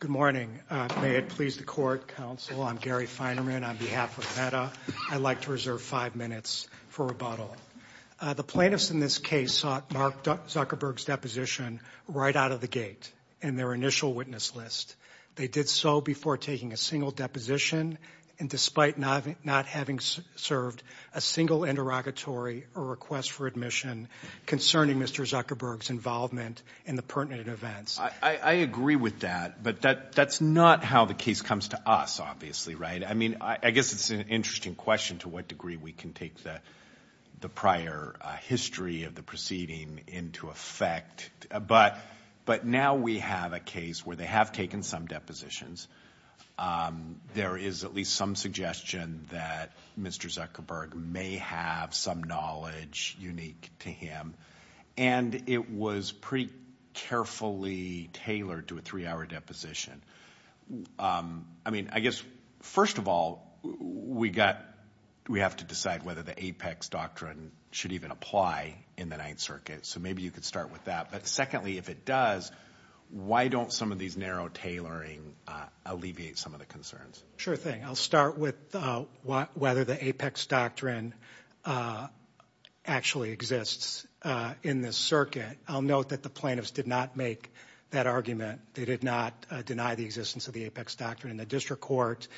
Good morning. May it please the Court, Counsel, I'm Gary Feinerman on behalf of META. I'd like to reserve five minutes for rebuttal. The plaintiffs in this case sought Mark Zuckerberg's deposition right out of the gate in their initial witness list. They did so before taking a single deposition and despite not having served a single interrogatory or request for admission concerning Mr. Zuckerberg's involvement in the pertinent events. I agree with that, but that's not how the case comes to us, obviously, right? I mean, I guess it's an interesting question to what degree we can take the prior history of the proceeding into effect, but now we have a case where they have taken some depositions. There is at least some suggestion that Mr. Zuckerberg may have some knowledge unique to him, and it was pretty carefully tailored to a three-hour deposition. I mean, I guess, first of all, we have to decide whether the Apex Doctrine should even apply in the Ninth Circuit, so maybe you could start with that. But secondly, if it does, why don't some of these narrow tailoring alleviate some of the concerns? Sure thing. I'll start with whether the Apex Doctrine actually exists in this circuit. I'll note that the plaintiffs did not make that argument. They did not deny the existence of the Apex Doctrine in the district court,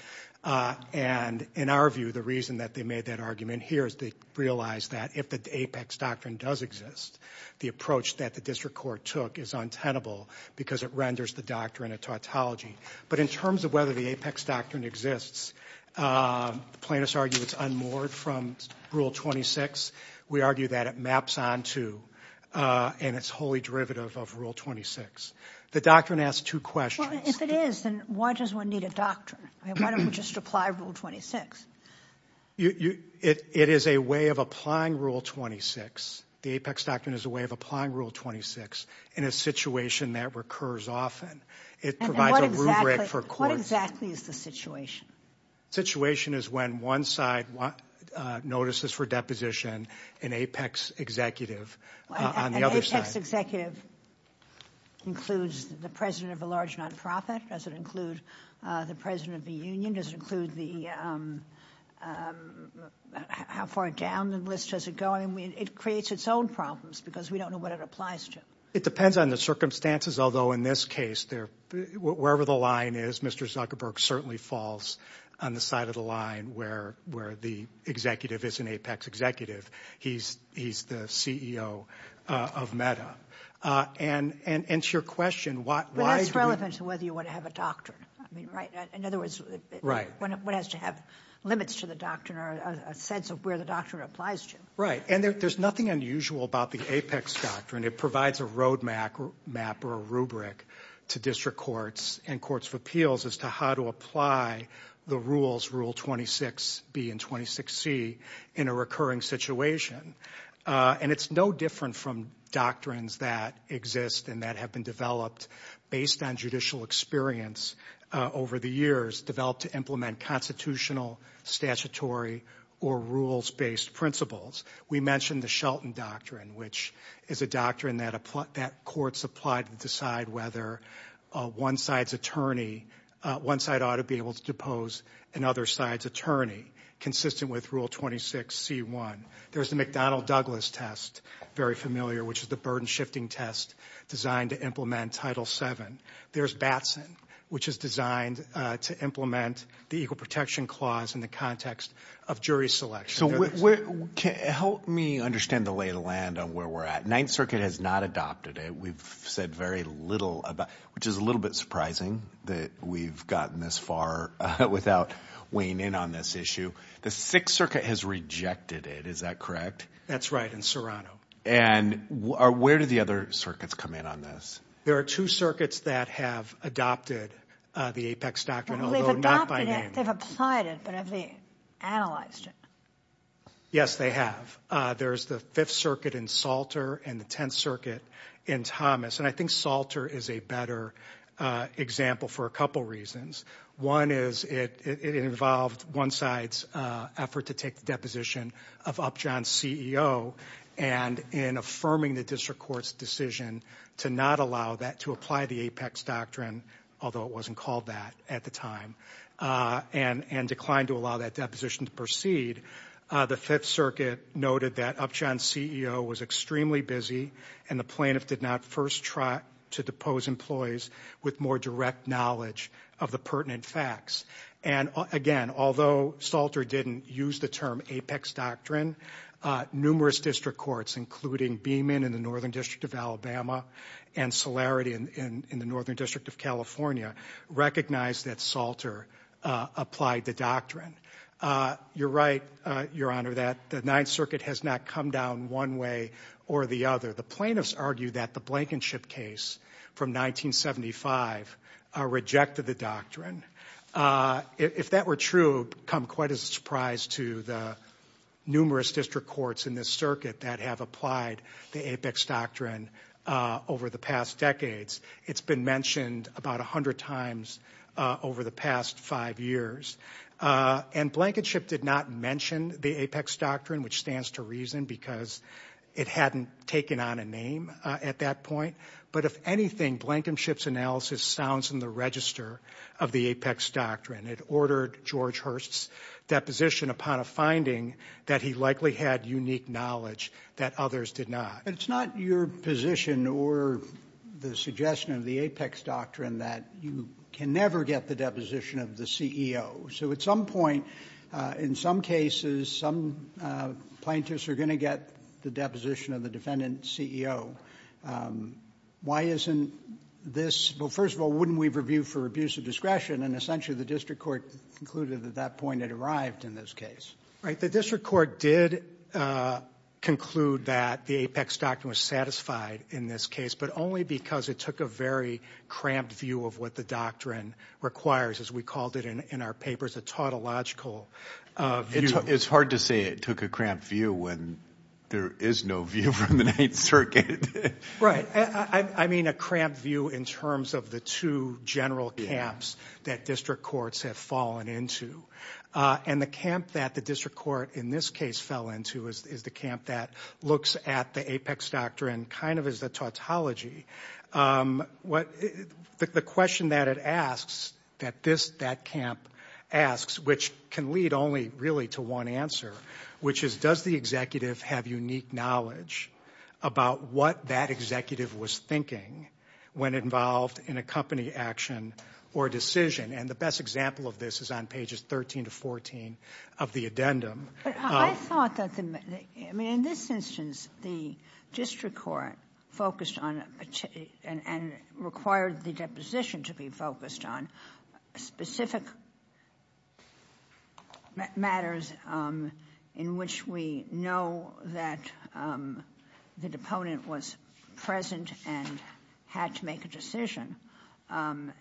and in our view, the reason that they made that argument here is they realized that if the Apex Doctrine does exist, the approach that the district court took is untenable because it renders the doctrine a tautology. But in terms of whether the Apex Doctrine exists, the plaintiffs argue it's unmoored from Rule 26. We argue that it maps onto and it's wholly derivative of Rule 26. The doctrine asks two questions. Well, if it is, then why does one need a doctrine? I mean, why don't we just apply Rule 26? It is a way of applying Rule 26. The Apex Doctrine is a way of applying Rule 26 in a situation that recurs often. It provides a rubric for courts. What exactly is the situation? Situation is when one side notices for deposition an Apex executive on the other side. An Apex executive includes the president of a large non-profit? Does it include the president of the union? Does it include the... How far down the list does it go? I mean, it creates its own problems because we don't know what it applies to. It depends on the circumstances. Although, in this case, wherever the line is, Mr. Zuckerberg certainly falls on the side of the line where the executive is an Apex executive. He's the CEO of Meta. And to your question, why do you... But that's relevant to whether you want to have a doctrine. I mean, right? In other words, one has to have limits to the doctrine or a sense of where the doctrine applies to. Right. And there's nothing unusual about the Apex Doctrine. It provides a road map or a rubric to district courts and courts of appeals as to how to apply the rules, Rule 26B and 26C, in a recurring situation. And it's no different from doctrines that exist and that have been developed based on judicial experience over the years, developed to implement constitutional, statutory, or rules-based principles. We mentioned the Shelton Doctrine, which is a doctrine that courts apply to decide whether one side's attorney... One side ought to be able to depose another side's attorney, consistent with Rule 26C1. There's the McDonnell-Douglas test, very familiar, which is the burden-shifting test designed to implement Title VII. There's which is designed to implement the Equal Protection Clause in the context of jury selection. Help me understand the lay of the land on where we're at. Ninth Circuit has not adopted it. We've said very little about it, which is a little bit surprising that we've gotten this far without weighing in on this issue. The Sixth Circuit has rejected it. Is that correct? That's right, in Serrano. And where do the other circuits come in on this? There are two circuits that have adopted the Apex Doctrine, although not by name. They've applied it, but have they analyzed it? Yes, they have. There's the Fifth Circuit in Salter and the Tenth Circuit in Thomas, and I think Salter is a better example for a couple reasons. One is it involved one side's effort to take the deposition of Upjohn's CEO and in affirming the district court's decision to not allow that to apply the Apex Doctrine, although it wasn't called that at the time, and declined to allow that deposition to proceed. The Fifth Circuit noted that Upjohn's CEO was extremely busy, and the plaintiff did not first try to depose employees with more direct knowledge of the pertinent facts. And again, although Salter didn't use the term Apex Doctrine, numerous district courts, including Beeman in the Northern District of Alabama, and Solarity in the Northern District of California, recognized that Salter applied the doctrine. You're right, Your Honor, that the Ninth Circuit has not come down one way or the other. The plaintiffs argue that the Blankenship case from 1975 rejected the doctrine. If that were true, it would come quite as a surprise to the numerous district courts in this circuit that have applied the Apex Doctrine over the past decades. It's been mentioned about 100 times over the past five years. And Blankenship did not mention the Apex Doctrine, which stands to reason because it hadn't taken on a name at that point. But if anything, Blankenship's analysis sounds in of the Apex Doctrine. It ordered George Hurst's deposition upon a finding that he likely had unique knowledge that others did not. But it's not your position or the suggestion of the Apex Doctrine that you can never get the deposition of the CEO. So at some point, in some cases, some plaintiffs are going to get the deposition of the defendant CEO. Why isn't this? Well, wouldn't we review for abuse of discretion? And essentially, the district court concluded at that point it arrived in this case. Right. The district court did conclude that the Apex Doctrine was satisfied in this case, but only because it took a very cramped view of what the doctrine requires, as we called it in our papers, a tautological view. It's hard to say it took a cramped view when there is no view from the Ninth Circuit. Right. I mean, a cramped view in terms of the two general camps that district courts have fallen into. And the camp that the district court in this case fell into is the camp that looks at the Apex Doctrine kind of as the tautology. The question that it asks, that this, that camp asks, which can lead only really to one answer, which is, does the executive have unique knowledge about what that executive was thinking when involved in a company action or a decision? And the best example of this is on pages 13 to 14 of the addendum. I mean, in this instance, the district court focused on and required the deposition to be focused on specific matters in which we know that the deponent was present and had to make a decision. And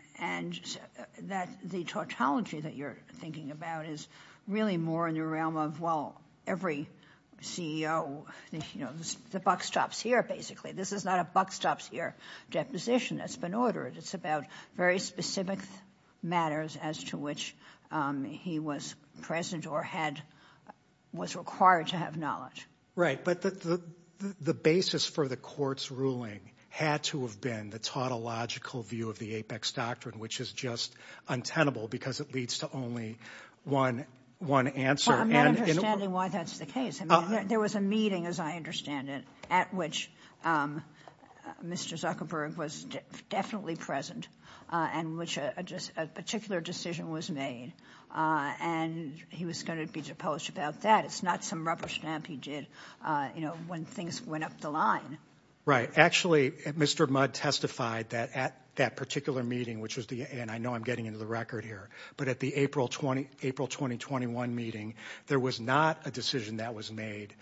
that the tautology that you're thinking about is really more in the realm of, well, every CEO, you know, the buck stops here, basically. This is not a buck stops here deposition that's been ordered. It's about very specific matters as to which he was present or was required to have knowledge. Right. But the basis for the court's ruling had to have been the tautological view of the Apex Doctrine, which is just untenable because it leads to only one answer. Well, I'm not understanding why that's the case. There was a meeting, as I understand it, at which Mr. Zuckerberg was definitely present and which a particular decision was made. And he was going to be deposed about that. It's not some rubber stamp he did, you know, when things went up the line. Right. Actually, Mr. Mudd testified that at that particular meeting, which is the end, I know I'm getting into the record here, but at the April 2021 meeting, there was not a decision that was made.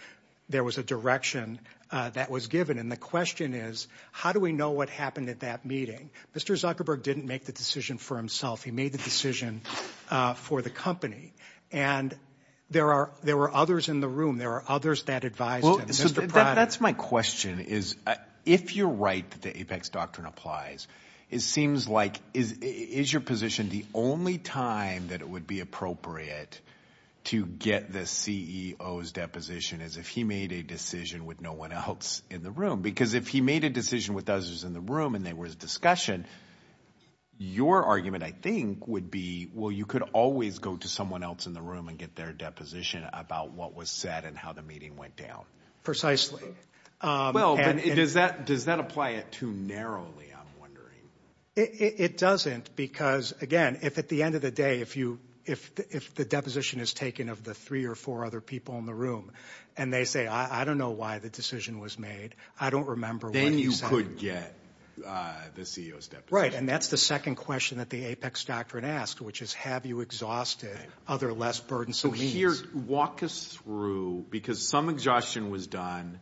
There was a direction that was given. And the question is, how do we know what happened at that meeting? Mr. Zuckerberg didn't make the decision for himself. He made the decision for the company. And there are there were others in the room. There are others that advised. That's my question is, if you're right, the Apex Doctrine applies. It seems like is your position the only time that it would be appropriate to get the CEO's deposition is if he made a decision with no one else in the room, because if he made a decision with others in the room and there was discussion, your argument, I think, would be, well, you could always go to someone else in the room and get their deposition about what was said and how the meeting went down. Precisely. Well, does that does that apply it too narrowly? I'm wondering. It doesn't, because, again, if at the end of the day, if you if if the deposition is taken of the three or four other people in the room and they say, I don't know why the decision was made, I don't remember. Then you could get the CEO's deposition. Right. And that's the second question that the Apex Doctrine asked, which is, have you exhausted other less burdensome means? So here, walk us through, because some exhaustion was done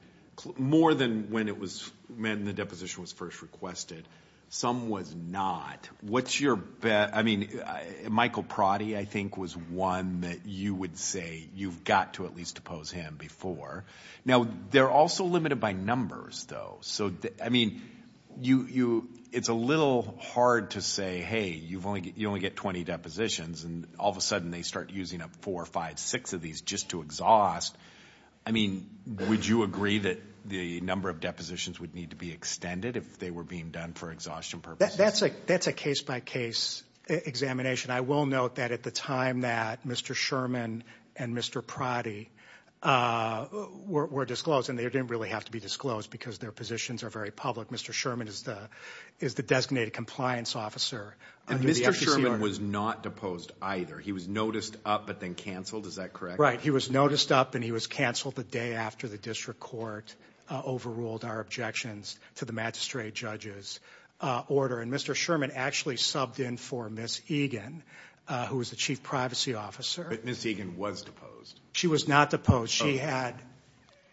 more than when it was when the deposition was first requested. Some was not. What's your bet? I mean, Michael Prodi, I think, was one that you would say you've got to at least oppose him before. Now, they're also limited by numbers, though. So, I mean, you you it's a little hard to say, hey, you've only you only get 20 depositions and all of a sudden they start using up four or five, six of these just to exhaust. I mean, would you agree that the number of depositions would need to be extended if they were being done for exhaustion purposes? That's a that's a case by case examination. I will note that at the time that Mr. Sherman and Mr. Prodi were disclosed and they didn't really have to be disclosed because their positions are very public. Mr. Sherman is the is the designated compliance officer. And Mr. Sherman was not deposed either. He was noticed up, but then canceled. Is that correct? Right. He was noticed up and he was canceled the day after the district court overruled our objections to the magistrate judge's order. And Mr. Sherman actually subbed in for Ms. Egan, who was the chief privacy officer. Ms. Egan was deposed. She was not deposed. She had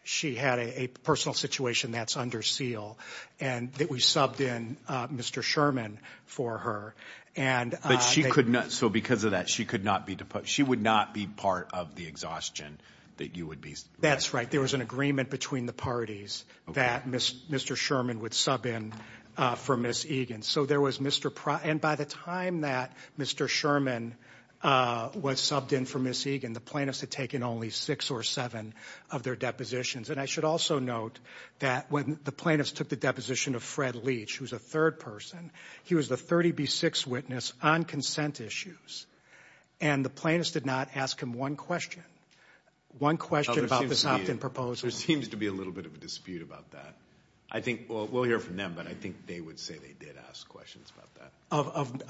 she had a personal situation that's under seal and that we subbed in Mr. Sherman for her. And she could not. So because of that, she could not be deposed. She would not be part of the exhaustion that you would be. That's right. There was an agreement between the parties that Mr. Sherman would sub in for Ms. Egan. So there was Mr. Prodi. And by the time that Mr. Sherman was subbed in for Ms. Egan, the plaintiffs had taken only six or seven of their depositions. And I should also note that when the plaintiffs took the deposition of Fred Leach, who's a third person, he was the 30B6 witness on consent issues. And the plaintiffs did not ask him one question, one question about this opt-in proposal. There seems to be a little bit of a dispute about that. I think we'll hear from them, but I think they would say they did ask questions about that.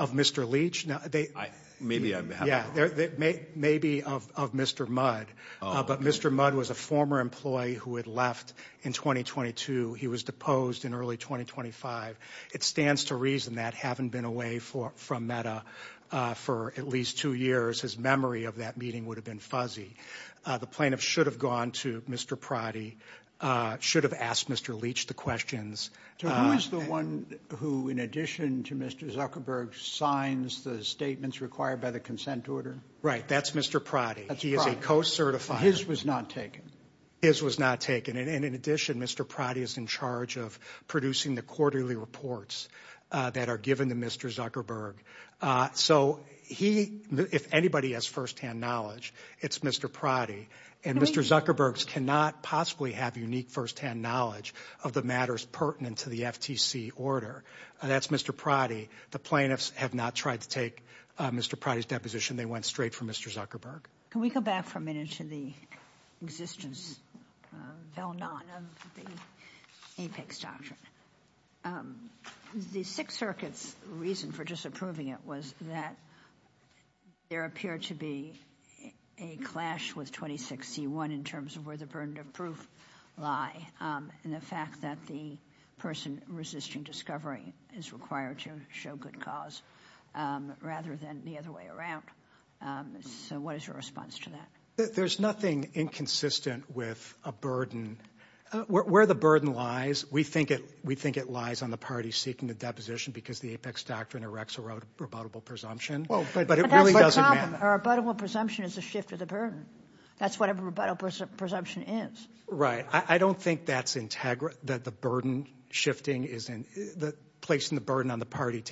Of Mr. Leach? Maybe of Mr. Mudd. But Mr. Mudd was a former employee who had left in 2022. He was deposed in early 2025. It stands to reason that having been away from META for at least two years, his memory of that meeting would have been fuzzy. The plaintiffs should have gone to Mr. Prodi, should have asked Mr. Leach the questions. So who is the one who, in addition to Mr. Zuckerberg, signs the statements required by the consent order? Right. That's Mr. Prodi. He is a co-certifier. His was not taken? His was not taken. And in addition, Mr. Prodi is in charge of producing the quarterly reports that are given to Mr. Zuckerberg. So he, if anybody, has firsthand knowledge, it's Mr. Prodi. And Mr. Zuckerberg cannot possibly have unique firsthand knowledge of the matters pertinent to the FTC order. That's Mr. Prodi. The plaintiffs have not tried to take Mr. Prodi's deposition. They went straight for Mr. Zuckerberg. Can we go back for a minute to the existence of the Apex Doctrine? The Sixth Circuit's reason for disapproving it was that there appeared to be a clash with 26C1 in terms of where the burden of proof lie and the fact that the person resisting discovery is required to show good cause rather than the other way around. So what is your response to that? There's nothing inconsistent with a burden. Where the burden lies, we think it lies on the party seeking a deposition because the Apex Doctrine erects a rebuttable presumption. A rebuttable presumption is a shift of the burden. That's what a rebuttable presumption is. Right. I don't think that's integral, that the burden shifting is placing the burden on the party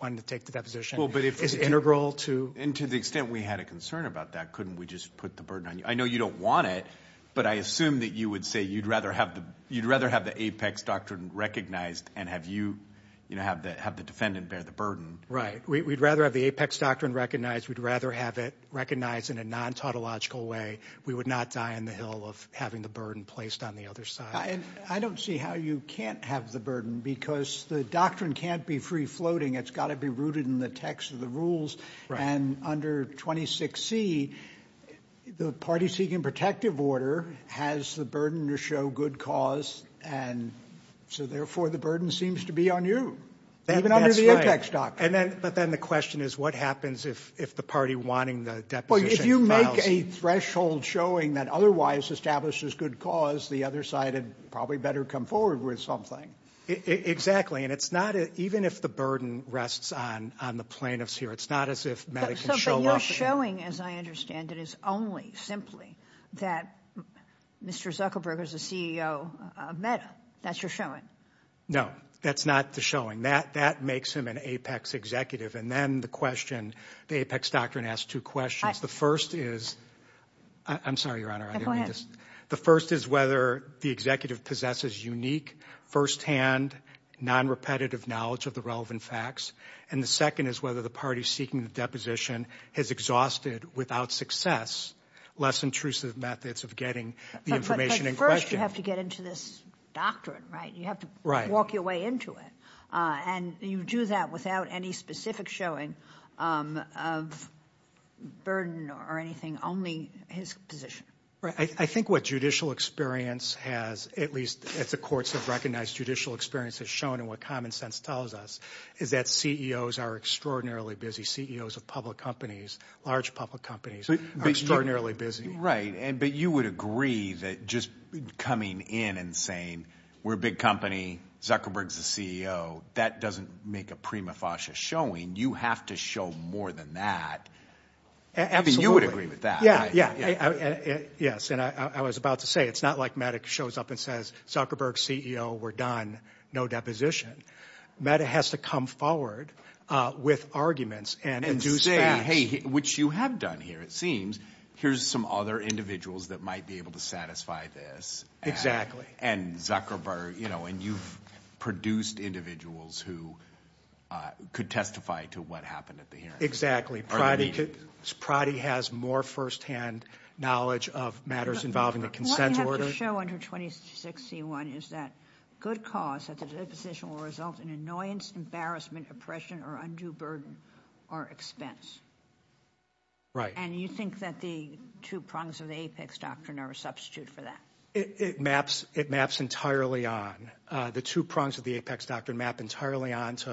wanting to take the deposition is integral to... And to the extent we had a concern about that, couldn't we just put the burden on you? I know you don't want it, but I assume that you would say you'd rather have the Apex Doctrine recognized and have the defendant bear the burden. Right. We'd rather have the Apex Doctrine recognized. We'd rather have it recognized in a non-tautological way. We would not die on the hill of having the burden placed on the other side. I don't see how you can't have the burden because the doctrine can't be free-floating. It's got to be rooted in the text of the rules. And under 26C, the party seeking protective order has the burden to show good cause. And so therefore, the burden seems to be on you, even under the Apex Doctrine. That's right. But then the question is what happens if the party wanting the deposition... Well, if you make a threshold showing that otherwise establishes good cause, the other side had probably better come forward with something. Exactly. And it's not... Even if the burden rests on the plaintiffs here, it's not as if Meda can show up... But your showing, as I understand it, is only simply that Mr. Zuckerberg is the CEO of Meda. That's your showing. No, that's not the showing. That makes him an Apex executive. And then the question, the Apex Doctrine asks two questions. The first is... I'm sorry, Your Honor. No, go ahead. The first is whether the executive possesses unique, firsthand, non-repetitive knowledge of the relevant facts. And the second is whether the party seeking the deposition has exhausted, without success, less intrusive methods of getting the information in question. But first, you have to get into this doctrine, right? You have to walk your way into it. And you do that without any specific showing of burden or anything, only his position. Right. I think what judicial experience has, at least as the courts have recognized judicial experience has shown and what common sense tells us, is that CEOs are extraordinarily busy. CEOs of public companies, large public companies, are extraordinarily busy. Right. But you would agree that just coming in and saying, we're a big company, Zuckerberg's the CEO, that doesn't make a prima facie showing. You have to show more than that. Evan, you would agree with that, right? Yeah, yeah. Yes. And I was about to say, it's not like Mattick shows up and says, Zuckerberg's CEO, we're done, no deposition. Mattick has to come forward with arguments and- And say, hey, which you have done here, it seems. Here's some other individuals that might be able to satisfy this. Exactly. And Zuckerberg, and you've produced individuals who could testify to what happened at the hearing. Exactly. Prodi has more firsthand knowledge of matters involving the consent order. What you have to show under 26C1 is that good cause at the deposition will result in annoyance, embarrassment, oppression, or undue burden or expense. Right. And you think that the two prongs of the Apex Doctrine are a substitute for that? It maps entirely on. The two prongs of the Apex Doctrine map entirely onto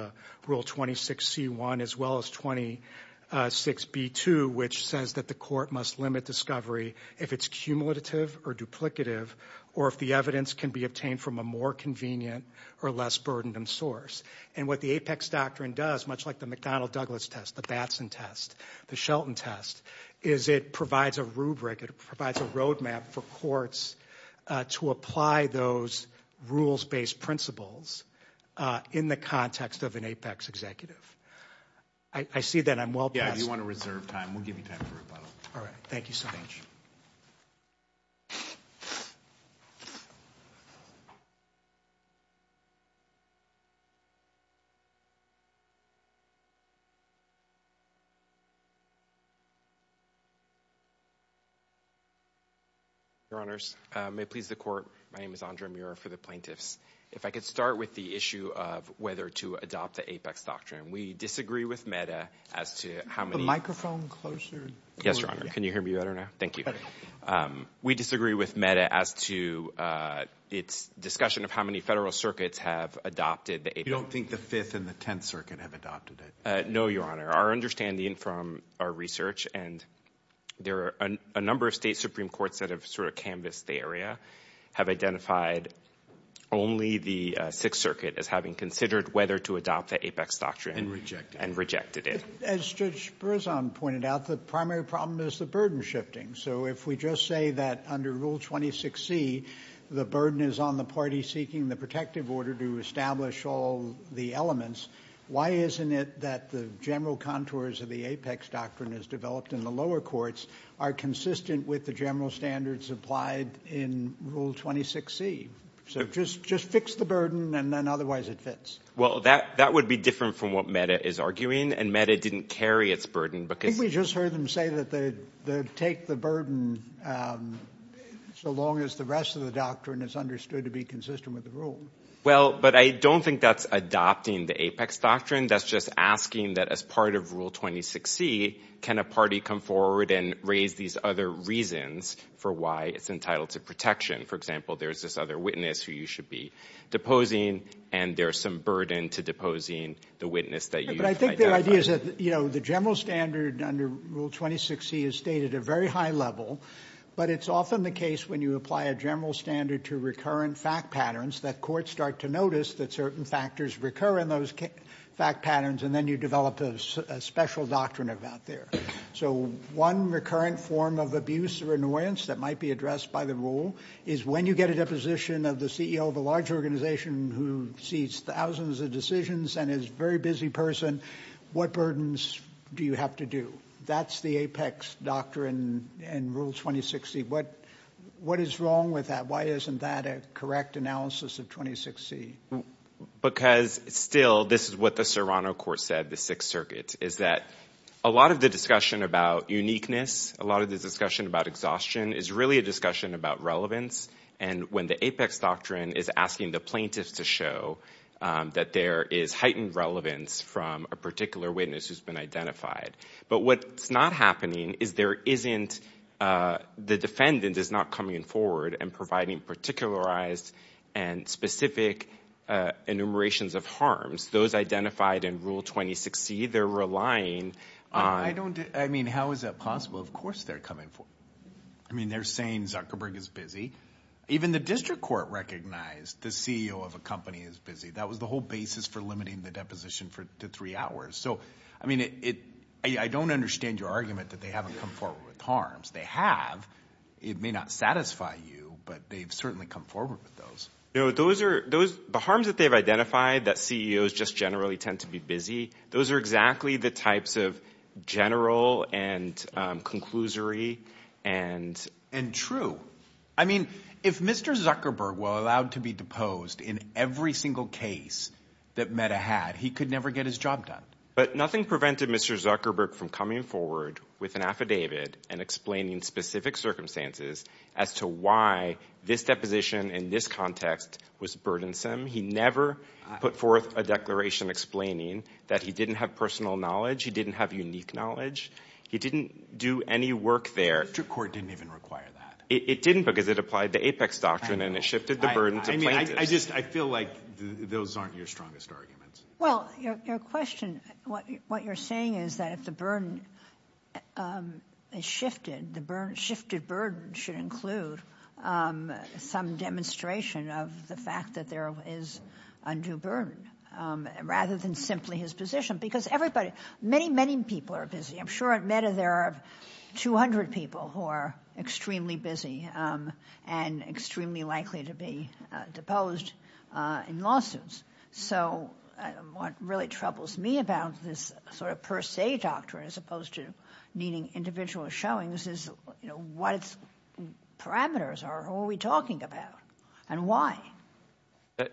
Rule 26C1, as well as 26B2, which says that the court must limit discovery if it's cumulative or duplicative, or if the evidence can be obtained from a more convenient or less burdened source. And what the Apex Doctrine does, much like the McDonnell-Douglas test, the Batson test, the Shelton test, is it provides a rubric. It provides a roadmap for courts to apply those rules-based principles in the context of an Apex executive. I see that I'm well past... Yeah, if you want to reserve time, we'll give you time for rebuttal. All right. Thank you so much. Your Honors, may it please the court. My name is Andre Muir for the plaintiffs. If I could start with the issue of whether to adopt the Apex Doctrine. We disagree with MEDA as to how many... Microphone closer. Yes, Your Honor. Can you hear me better now? Thank you. We disagree with MEDA as to its discussion of how many federal circuits have adopted the Apex... You don't think the Fifth and the Tenth Circuit have adopted it? No, Your Honor. Our understanding from our research, and there are a number of state Supreme Courts that have sort of canvassed the area, have identified only the Sixth Circuit as having considered whether to adopt the Apex Doctrine... And rejected it. And rejected it. As Judge Berzon pointed out, the primary problem is the burden shifting. So if we just say that under Rule 26C, the burden is on the party seeking the protective order to establish all the elements, why isn't it that the general contours of the Apex Doctrine as developed in the lower courts are consistent with the general standards applied in Rule 26C? So just fix the burden, and then otherwise it fits. Well, that would be different from what MEDA is arguing, and MEDA didn't carry its burden because... I think we just heard them say that they'd take the burden so long as the rest of the doctrine is understood to be consistent with the rule. Well, but I don't think that's adopting the Apex Doctrine. That's just asking that as part of Rule 26C, can a party come forward and raise these other reasons for why it's entitled to protection? For example, there's this other witness who you should be deposing, and there's some burden to deposing the witness that you've identified. But I think the idea is that the general standard under Rule 26C is stated at a very high level, but it's often the case when you apply a general standard to recurrent fact patterns, that courts start to notice that certain factors recur in those fact patterns, and then you develop a special doctrine about there. So one recurrent form of abuse or annoyance that might be addressed by the rule is when you get a deposition of the CEO of a large organization who sees thousands of decisions and is a very busy person, what burdens do you have to do? That's the Apex Doctrine in Rule 26C. What is wrong with that? Why isn't that a correct analysis of 26C? Because still, this is what the Serrano Court said, the Sixth Circuit, is that a lot of the discussion about uniqueness, a lot of the discussion about exhaustion is really a discussion about relevance. And when the Apex Doctrine is asking the plaintiffs to show that there is heightened relevance from a particular witness who's been identified. But what's not happening is there isn't, the defendant is not coming forward and providing particularized and specific enumerations of harms. Those identified in Rule 26C, they're relying on... I don't, I mean, how is that possible? Of course they're coming forward. I mean, they're saying Zuckerberg is busy. Even the district court recognized the CEO of a company is busy. That was the whole basis for limiting the deposition to three hours. So, I mean, I don't understand your argument that they haven't come forward with harms. They have. It may not satisfy you, but they've certainly come forward with those. No, those are, the harms that they've identified, that CEOs just generally tend to be busy, those are exactly the types of general and conclusory and true. I mean, if Mr. Zuckerberg allowed to be deposed in every single case that Meta had, he could never get his job done. But nothing prevented Mr. Zuckerberg from coming forward with an affidavit and explaining specific circumstances as to why this deposition in this context was burdensome. He never put forth a declaration explaining that he didn't have personal knowledge, he didn't have unique knowledge, he didn't do any work there. The district court didn't even require that. It didn't because it applied the Apex Doctrine and it shifted the burden to plaintiffs. I mean, I just, I feel like those aren't your strongest arguments. Well, your question, what you're saying is that if the burden is shifted, the shifted burden should include some demonstration of the fact that there is undue burden rather than simply his position. Because everybody, many, many people are busy. I'm sure at Meta there are 200 people who are extremely busy and extremely likely to be deposed in lawsuits. So what really troubles me about this sort of per se doctrine as opposed to needing individual showings is, you know, what its parameters are, who are we talking about and why?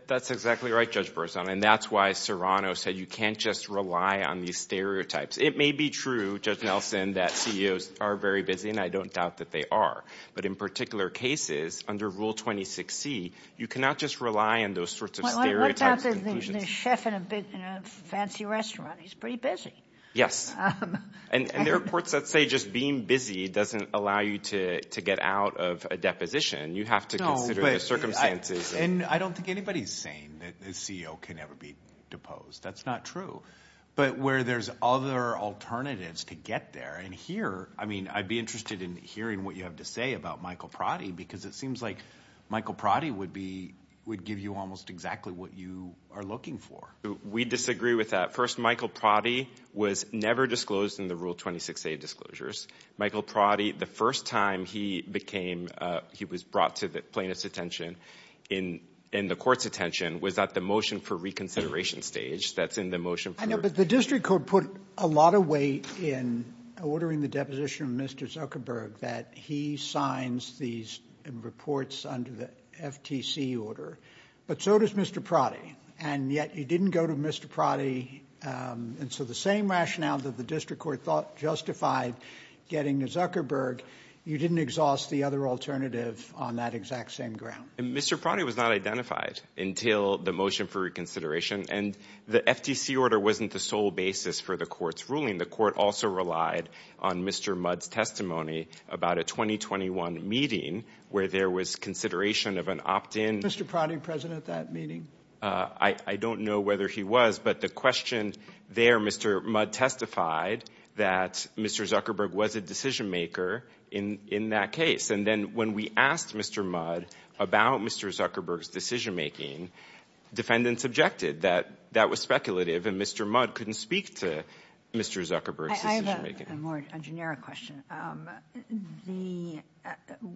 That's exactly right, Judge Berzon. And that's why Serrano said you can't just rely on these stereotypes. It may be true, Judge Nelson, that CEOs are very busy and I don't doubt that they are. But in particular cases, under Rule 26C, you cannot just rely on those sorts of stereotypes. Well, I worked out that the chef in a fancy restaurant, he's pretty busy. Yes. And there are courts that say just being busy doesn't allow you to get out of a deposition. You have to consider the circumstances. And I don't think anybody's saying that the CEO can never be deposed. That's not true. But where there's other alternatives to get there. And here, I mean, I'd be interested in hearing what you have to say about Michael Pratty, because it seems like Michael Pratty would be, would give you almost exactly what you are looking for. We disagree with that. First, Michael Pratty was never disclosed in the Rule 26A disclosures. Michael Pratty, the first time he became, he was brought to the plaintiff's attention and the court's attention was at the motion for reconsideration stage. That's in the motion. I know, but the district court put a lot of weight in ordering the deposition of Mr. Zuckerberg, that he signs these reports under the FTC order. But so does Mr. Pratty. And yet you didn't go to Mr. Pratty. And so the same rationale that the district court thought justified getting Zuckerberg, you didn't exhaust the other alternative on that exact same ground. Mr. Pratty was not identified until the motion for reconsideration. And the FTC order wasn't the sole basis for the court's ruling. The court also relied on Mr. Mudd's testimony about a 2021 meeting where there was consideration of an opt-in. Was Mr. Pratty present at that meeting? I don't know whether he was, but the question there, Mr. Mudd testified that Mr. Zuckerberg was a decision-maker in that case. And then when we asked Mr. Mudd about Mr. Zuckerberg's decision-making, defendants objected that that was speculative, and Mr. Mudd couldn't speak to Mr. Zuckerberg's decision-making. I have a more generic question.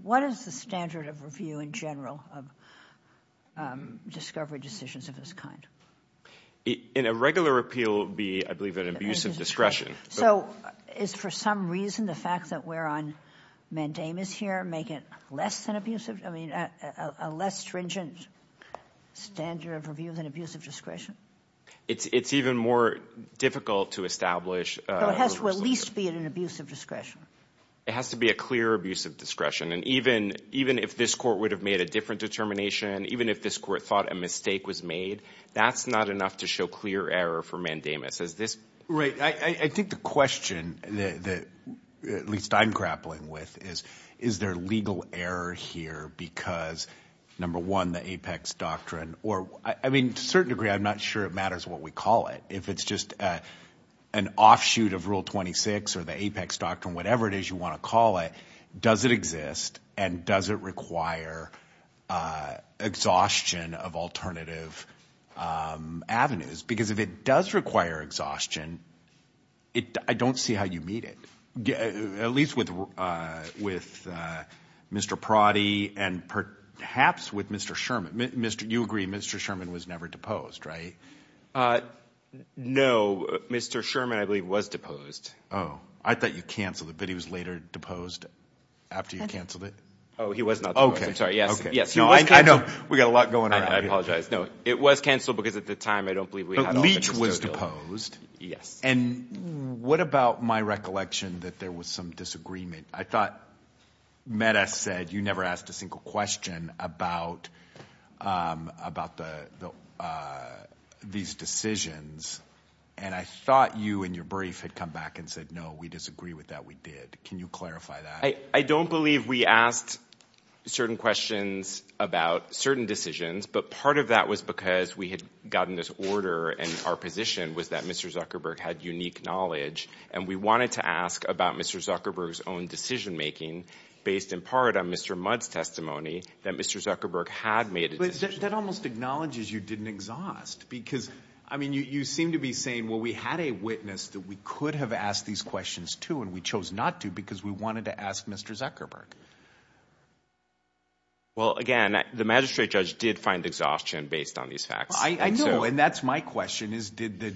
What is the standard of review in general of discovery decisions of this kind? In a regular appeal, it would be, I believe, an abuse of discretion. So is, for some reason, the fact that we're on mandamus here make it less than abusive? I mean, a less stringent standard of review than abuse of discretion? It's even more difficult to establish. So it has to at least be an abuse of discretion. It has to be a clear abuse of discretion. And even if this court would have made a different determination, even if this court thought a mistake was made, that's not enough to show clear error for mandamus. Is this... Right. I think the question that at least I'm grappling with is, is there legal error here because, number one, the Apex Doctrine or... I mean, to a certain degree, I'm not sure it matters what we call it. If it's just an offshoot of Rule 26 or the Apex Doctrine, whatever it is you want to call it, does it exist and does it require exhaustion of alternative avenues? Because if it does require exhaustion, I don't see how you meet it. At least with Mr. Prodi and perhaps with Mr. Sherman. You agree Mr. Sherman was never deposed, right? No, Mr. Sherman, I believe, was deposed. Oh, I thought you canceled it, but he was later deposed after you canceled it? Oh, he was not deposed. I'm sorry. Yes, yes. No, I know. We've got a lot going on here. I apologize. No, it was canceled because at the time, I don't believe we had... But Leach was deposed. Yes. And what about my recollection that there was some disagreement? I thought Meta said you never asked a single question about these decisions. And I thought you in your brief had come back and said, no, we disagree with that. We did. Can you clarify that? I don't believe we asked certain questions about certain decisions, but part of that was because we had gotten this order and our position was that Mr. Zuckerberg had unique knowledge, and we wanted to ask about Mr. Zuckerberg's own decision-making based in part on Mr. Mudd's testimony that Mr. Zuckerberg had made a decision. That almost acknowledges you didn't exhaust because, I mean, you seem to be saying, well, we had a witness that we could have asked these questions to, and we chose not to because we wanted to ask Mr. Zuckerberg. Well, again, the magistrate judge did find exhaustion based on these facts. I know, and that's my question, is did the...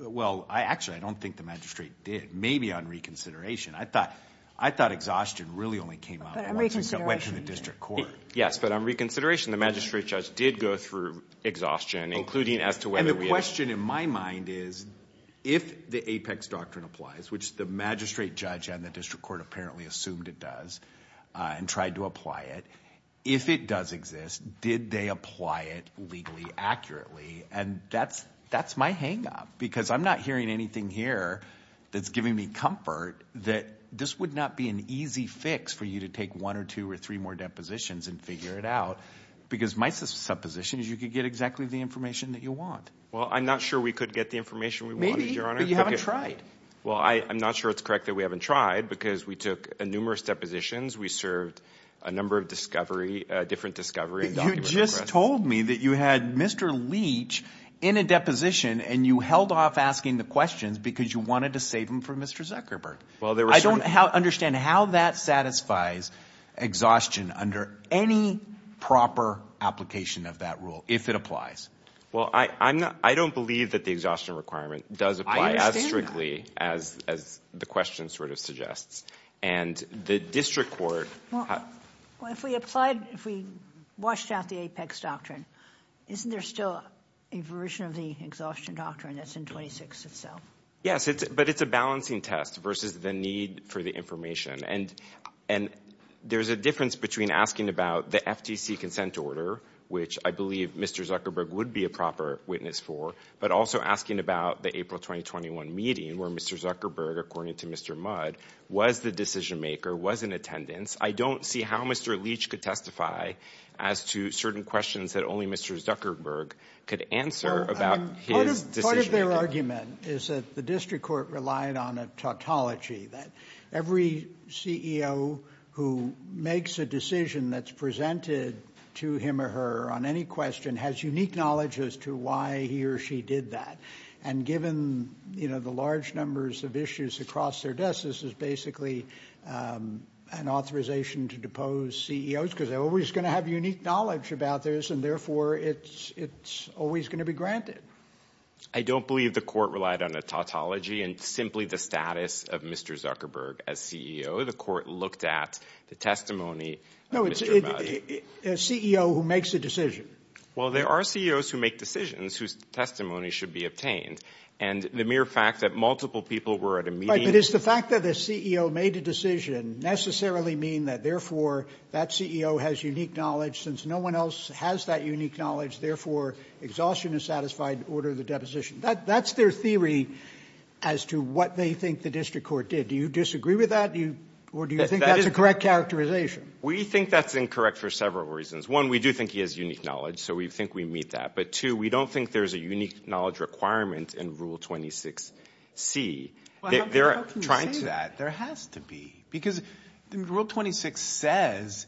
Well, actually, I don't think the magistrate did. Maybe on reconsideration. I thought exhaustion really only came out once it went to the district court. Yes, but on reconsideration, the magistrate judge did go through exhaustion, including as to whether we... And the question in my mind is if the Apex Doctrine applies, which the magistrate judge and the district court apparently assumed it does and tried to apply it, if it does exist, did they apply it legally accurately? And that's my hang-up because I'm not hearing anything here that's giving me comfort that this would not be an easy fix for you to take one or two or three more depositions and figure it out because my supposition is you could get exactly the information that you want. Well, I'm not sure we could get the information we wanted, Your Honor. Maybe, but you haven't tried. Well, I'm not sure it's correct that we haven't tried because we took numerous depositions. We served a number of discovery, different discovery and documents. You just told me that you had Mr. Leach in a deposition and you held off asking the questions because you wanted to save them for Mr. Zuckerberg. Well, there were certain... I don't understand how that satisfies exhaustion under any proper application of that rule, if it applies. Well, I don't believe that the exhaustion requirement does apply as strictly as the question sort of suggests. And the district court... Well, if we applied, if we washed out the Apex Doctrine, isn't there still a version of the exhaustion doctrine that's in 26 itself? Yes, but it's a balancing test versus the need for the information. And there's a difference between asking about the FTC consent order, which I believe Mr. Zuckerberg would be a proper witness for, but also asking about the April 2021 meeting where Mr. Zuckerberg, according to Mr. Mudd, was the decision maker, was in attendance. I don't see how Mr. Leach could testify as to certain questions that only Mr. Zuckerberg could answer about his decision. Part of their argument is that the district court relied on a tautology, that every CEO who makes a decision that's presented to him or her on any question has unique knowledge as to why he or she did that. And given, you know, the large numbers of issues across their desk, this is basically an authorization to depose CEOs, because they're always going to have unique knowledge about this. And therefore, it's always going to be granted. I don't believe the court relied on a tautology and simply the status of Mr. Zuckerberg as CEO. The court looked at the testimony of Mr. Mudd. A CEO who makes a decision. Well, there are CEOs who make decisions whose testimony should be obtained. And the mere fact that multiple people were at a meeting... Right, but does the fact that the CEO made a decision necessarily mean that, therefore, that CEO has unique knowledge? Since no one else has that unique knowledge, therefore, exhaustion is satisfied, order the deposition. That's their theory as to what they think the district court did. Do you disagree with that? Or do you think that's a correct characterization? We think that's incorrect for several reasons. One, we do think he has unique knowledge. So we think we meet that. But two, we don't think there's a unique knowledge requirement in Rule 26C. Well, how can you say that? There has to be. Because Rule 26 says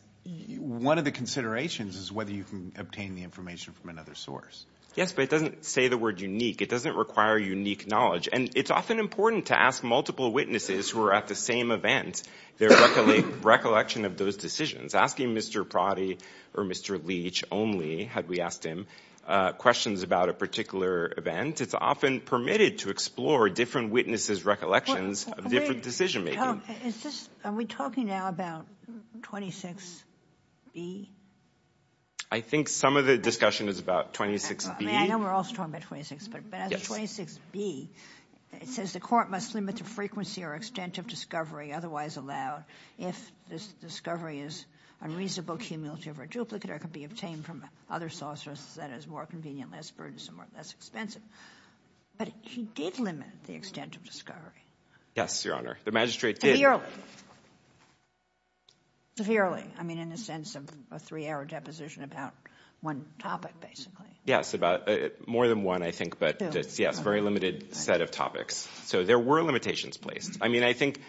one of the considerations is whether you can obtain the information from another source. Yes, but it doesn't say the word unique. It doesn't require unique knowledge. And it's often important to ask multiple witnesses who are at the same event, their recollection of those decisions. Asking Mr. Prodi or Mr. Leach only, had we asked him, questions about a particular event, it's often permitted to explore different witnesses' recollections of different decision-making. Are we talking now about 26B? I think some of the discussion is about 26B. I know we're also talking about 26, but as of 26B, it says the court must limit the frequency or extent of discovery otherwise allowed if this discovery is unreasonable, cumulative, or duplicate, or could be obtained from other sources that is more convenient, less burdensome, or less expensive. But he did limit the extent of discovery. Yes, Your Honor. The magistrate did. Severely. Severely. I mean, in the sense of a three-hour deposition about one topic, basically. Yes, about more than one, I think. But yes, very limited set of topics. So there were limitations placed. I mean, I think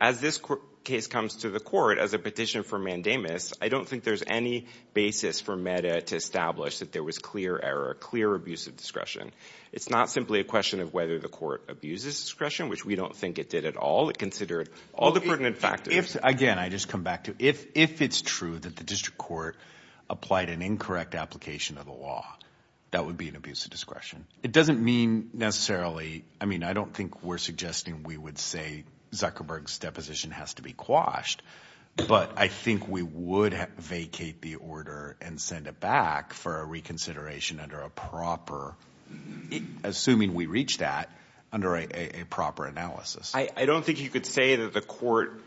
as this case comes to the court as a petition for mandamus, I don't think there's any basis for MEDA to establish that there was clear error, clear abuse of discretion. It's not simply a question of whether the court abuses discretion, which we don't think it did at all. It considered all the pertinent factors. Again, I just come back to if it's true that the district court applied an incorrect application of the law, that would be an abuse of discretion. It doesn't mean necessarily, I mean, I don't think we're suggesting we would say Zuckerberg's deposition has to be quashed. But I think we would vacate the order and send it back for a reconsideration under a proper, assuming we reach that, under a proper analysis. I don't think you could say that the court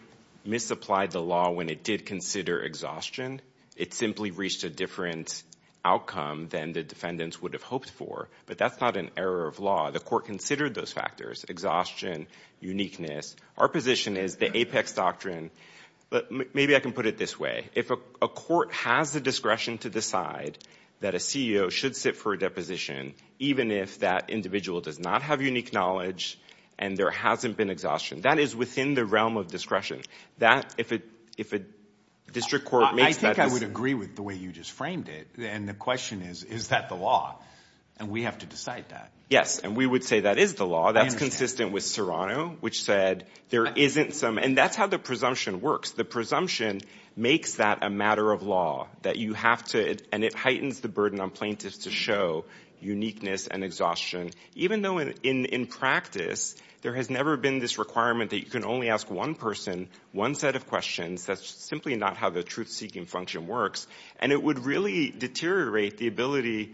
misapplied the law when it did consider exhaustion. It simply reached a different outcome than the defendants would have hoped for. But that's not an error of law. The court considered those factors, exhaustion, uniqueness. Our position is the Apex Doctrine. But maybe I can put it this way. If a court has the discretion to decide that a CEO should sit for a deposition, even if that individual does not have unique knowledge and there hasn't been exhaustion, that is within the realm of discretion. That, if a district court makes that decision— I think I would agree with the way you just framed it. And the question is, is that the law? And we have to decide that. Yes. And we would say that is the law. That's consistent with Serrano, which said there isn't some— and that's how the presumption works. The presumption makes that a matter of law, that you have to— and it heightens the burden on plaintiffs to show uniqueness and exhaustion, even though in practice there has never been this requirement that you can only ask one person one set of questions. That's simply not how the truth-seeking function works. And it would really deteriorate the ability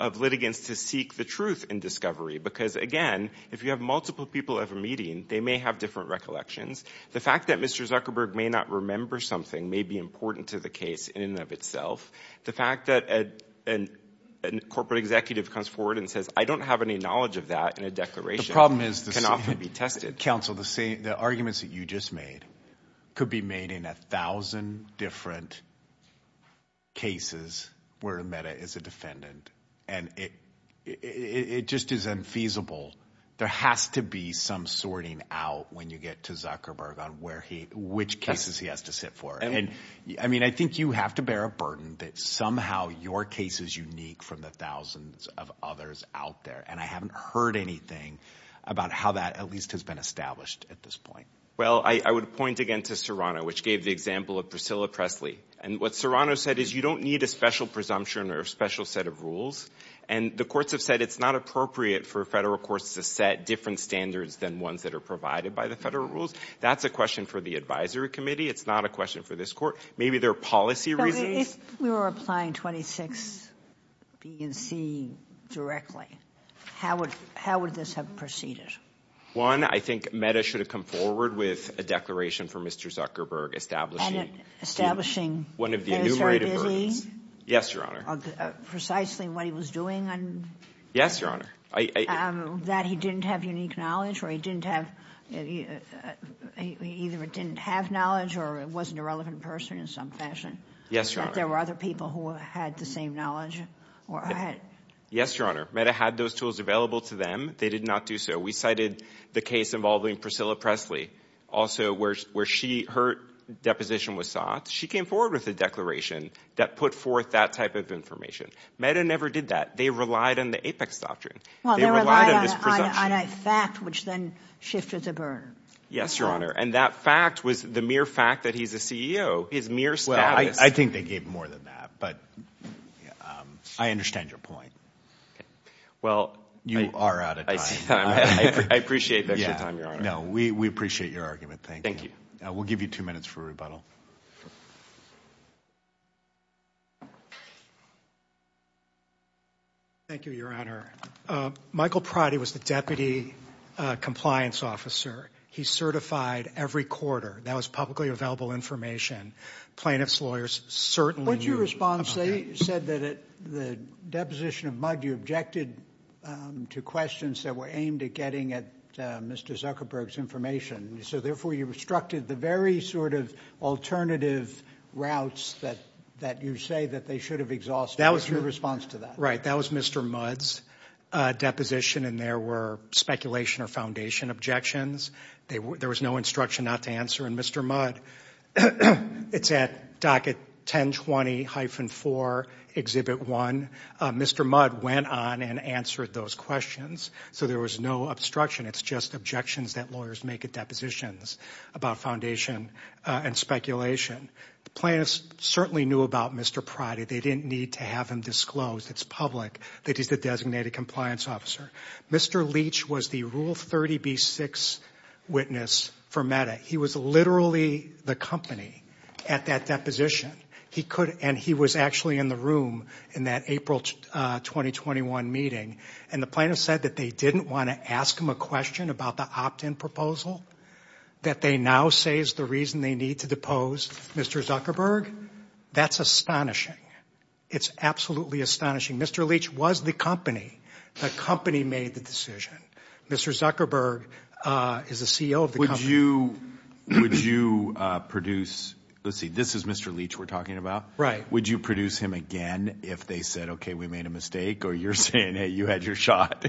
of litigants to seek the truth in discovery. Because, again, if you have multiple people at a meeting, they may have different recollections. The fact that Mr. Zuckerberg may not remember something may be important to the case in and of itself. The fact that a corporate executive comes forward and says, I don't have any knowledge of that in a declaration— The problem is— —can often be tested. Counsel, the arguments that you just made could be made in a thousand different cases where Meda is a defendant. And it just is unfeasible. There has to be some sorting out when you get to Zuckerberg on where he— which cases he has to sit for. And, I mean, I think you have to bear a burden that somehow your case is unique from the thousands of others out there. And I haven't heard anything about how that at least has been established at this point. —Well, I would point again to Serrano, which gave the example of Priscilla Presley. And what Serrano said is you don't need a special presumption or a special set of rules. And the courts have said it's not appropriate for Federal courts to set different standards than ones that are provided by the Federal rules. That's a question for the Advisory Committee. It's not a question for this Court. Maybe there are policy reasons— —We were applying 26B and C directly. How would this have proceeded? —One, I think Meda should have come forward with a declaration for Mr. Zuckerberg establishing— —And establishing— —One of the enumerated— —What he was doing. —Yes, Your Honor. —Precisely what he was doing. —Yes, Your Honor. —That he didn't have unique knowledge or he didn't have— either he didn't have knowledge or he wasn't a relevant person in some fashion. —Yes, Your Honor. —There were other people who had the same knowledge or had— —Yes, Your Honor. Meda had those tools available to them. They did not do so. We cited the case involving Priscilla Presley also where she— her deposition was sought. She came forward with a declaration that put forth that type of information. Meda never did that. They relied on the Apex Doctrine. —Well, they relied on a fact which then shifted the burden. —Yes, Your Honor. And that fact was the mere fact that he's a CEO. His mere status— —I think they gave more than that. But I understand your point. —Okay. Well— —You are out of time. —I appreciate the extra time, Your Honor. —No, we appreciate your argument. Thank you. —Thank you. —We'll give you two minutes for rebuttal. —Thank you, Your Honor. Michael Pratti was the deputy compliance officer. He certified every quarter. That was publicly available information. Plaintiffs' lawyers certainly knew— —What's your response? They said that at the deposition of Mudd, you objected to questions that were aimed at getting at Mr. Zuckerberg's information. So therefore, you obstructed the very sort of alternative routes that you say that they should have exhausted. What's your response to that? —Right. That was Mr. Mudd's deposition. And there were speculation or foundation objections. There was no instruction not to answer. And Mr. Mudd—it's at docket 1020-4, Exhibit 1—Mr. Mudd went on and answered those questions. So there was no obstruction. It's just objections that lawyers make at depositions about foundation and speculation. The plaintiffs certainly knew about Mr. Pratti. They didn't need to have him disclosed. It's public that he's the designated compliance officer. Mr. Leach was the Rule 30b-6 witness for Meda. He was literally the company at that deposition. He could—and he was actually in the room in that April 2021 meeting. And the plaintiffs said that they didn't want to ask him a question about the opt-in proposal that they now say is the reason they need to depose Mr. Zuckerberg. That's astonishing. It's absolutely astonishing. Mr. Leach was the company. The company made the decision. Mr. Zuckerberg is the CEO of the company. Would you produce—let's see, this is Mr. Leach we're talking about. Right. Would you produce him again if they said, okay, we made a mistake? Or you're saying, hey, you had your shot?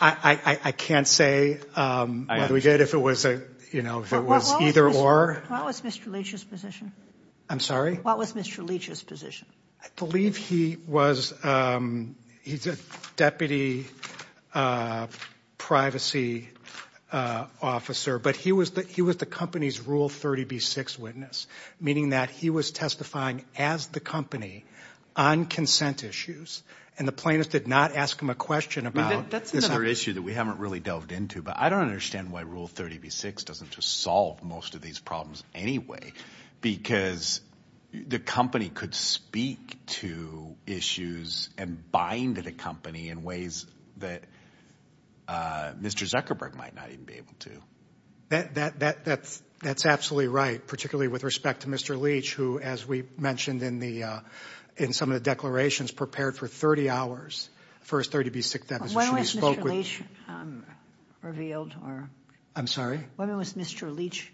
I can't say whether we did if it was, you know, if it was either or. What was Mr. Leach's position? I'm sorry? What was Mr. Leach's position? I believe he was—he's a deputy privacy officer, but he was the company's Rule 30b-6 witness, meaning that he was testifying as the company on consent issues. And the plaintiffs did not ask him a question about— That's another issue that we haven't really delved into. But I don't understand why Rule 30b-6 doesn't just solve most of these problems anyway, because the company could speak to issues and bind the company in ways that Mr. Zuckerberg might not even be able to. That's absolutely right, particularly with respect to Mr. Leach, who, as we mentioned in some of the declarations, prepared for 30 hours for his 30b-6 deposition. When was Mr. Leach revealed? I'm sorry? When was Mr. Leach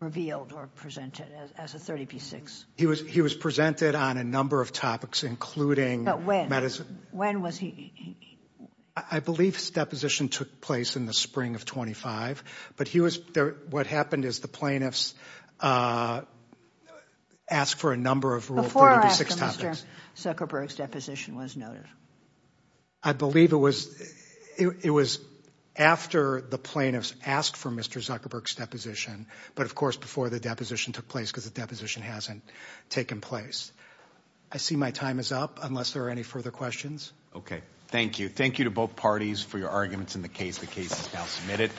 revealed or presented as a 30b-6? He was presented on a number of topics, including— But when? When was he— I believe his deposition took place in the spring of 25. But he was—what happened is the plaintiffs asked for a number of Rule 30b-6 topics. Before or after Mr. Zuckerberg's deposition was noted? I believe it was after the plaintiffs asked for Mr. Zuckerberg's deposition, but of course before the deposition took place, because the deposition hasn't taken place. I see my time is up, unless there are any further questions. Okay. Thank you. Thank you to both parties for your arguments in the case. The case is now submitted.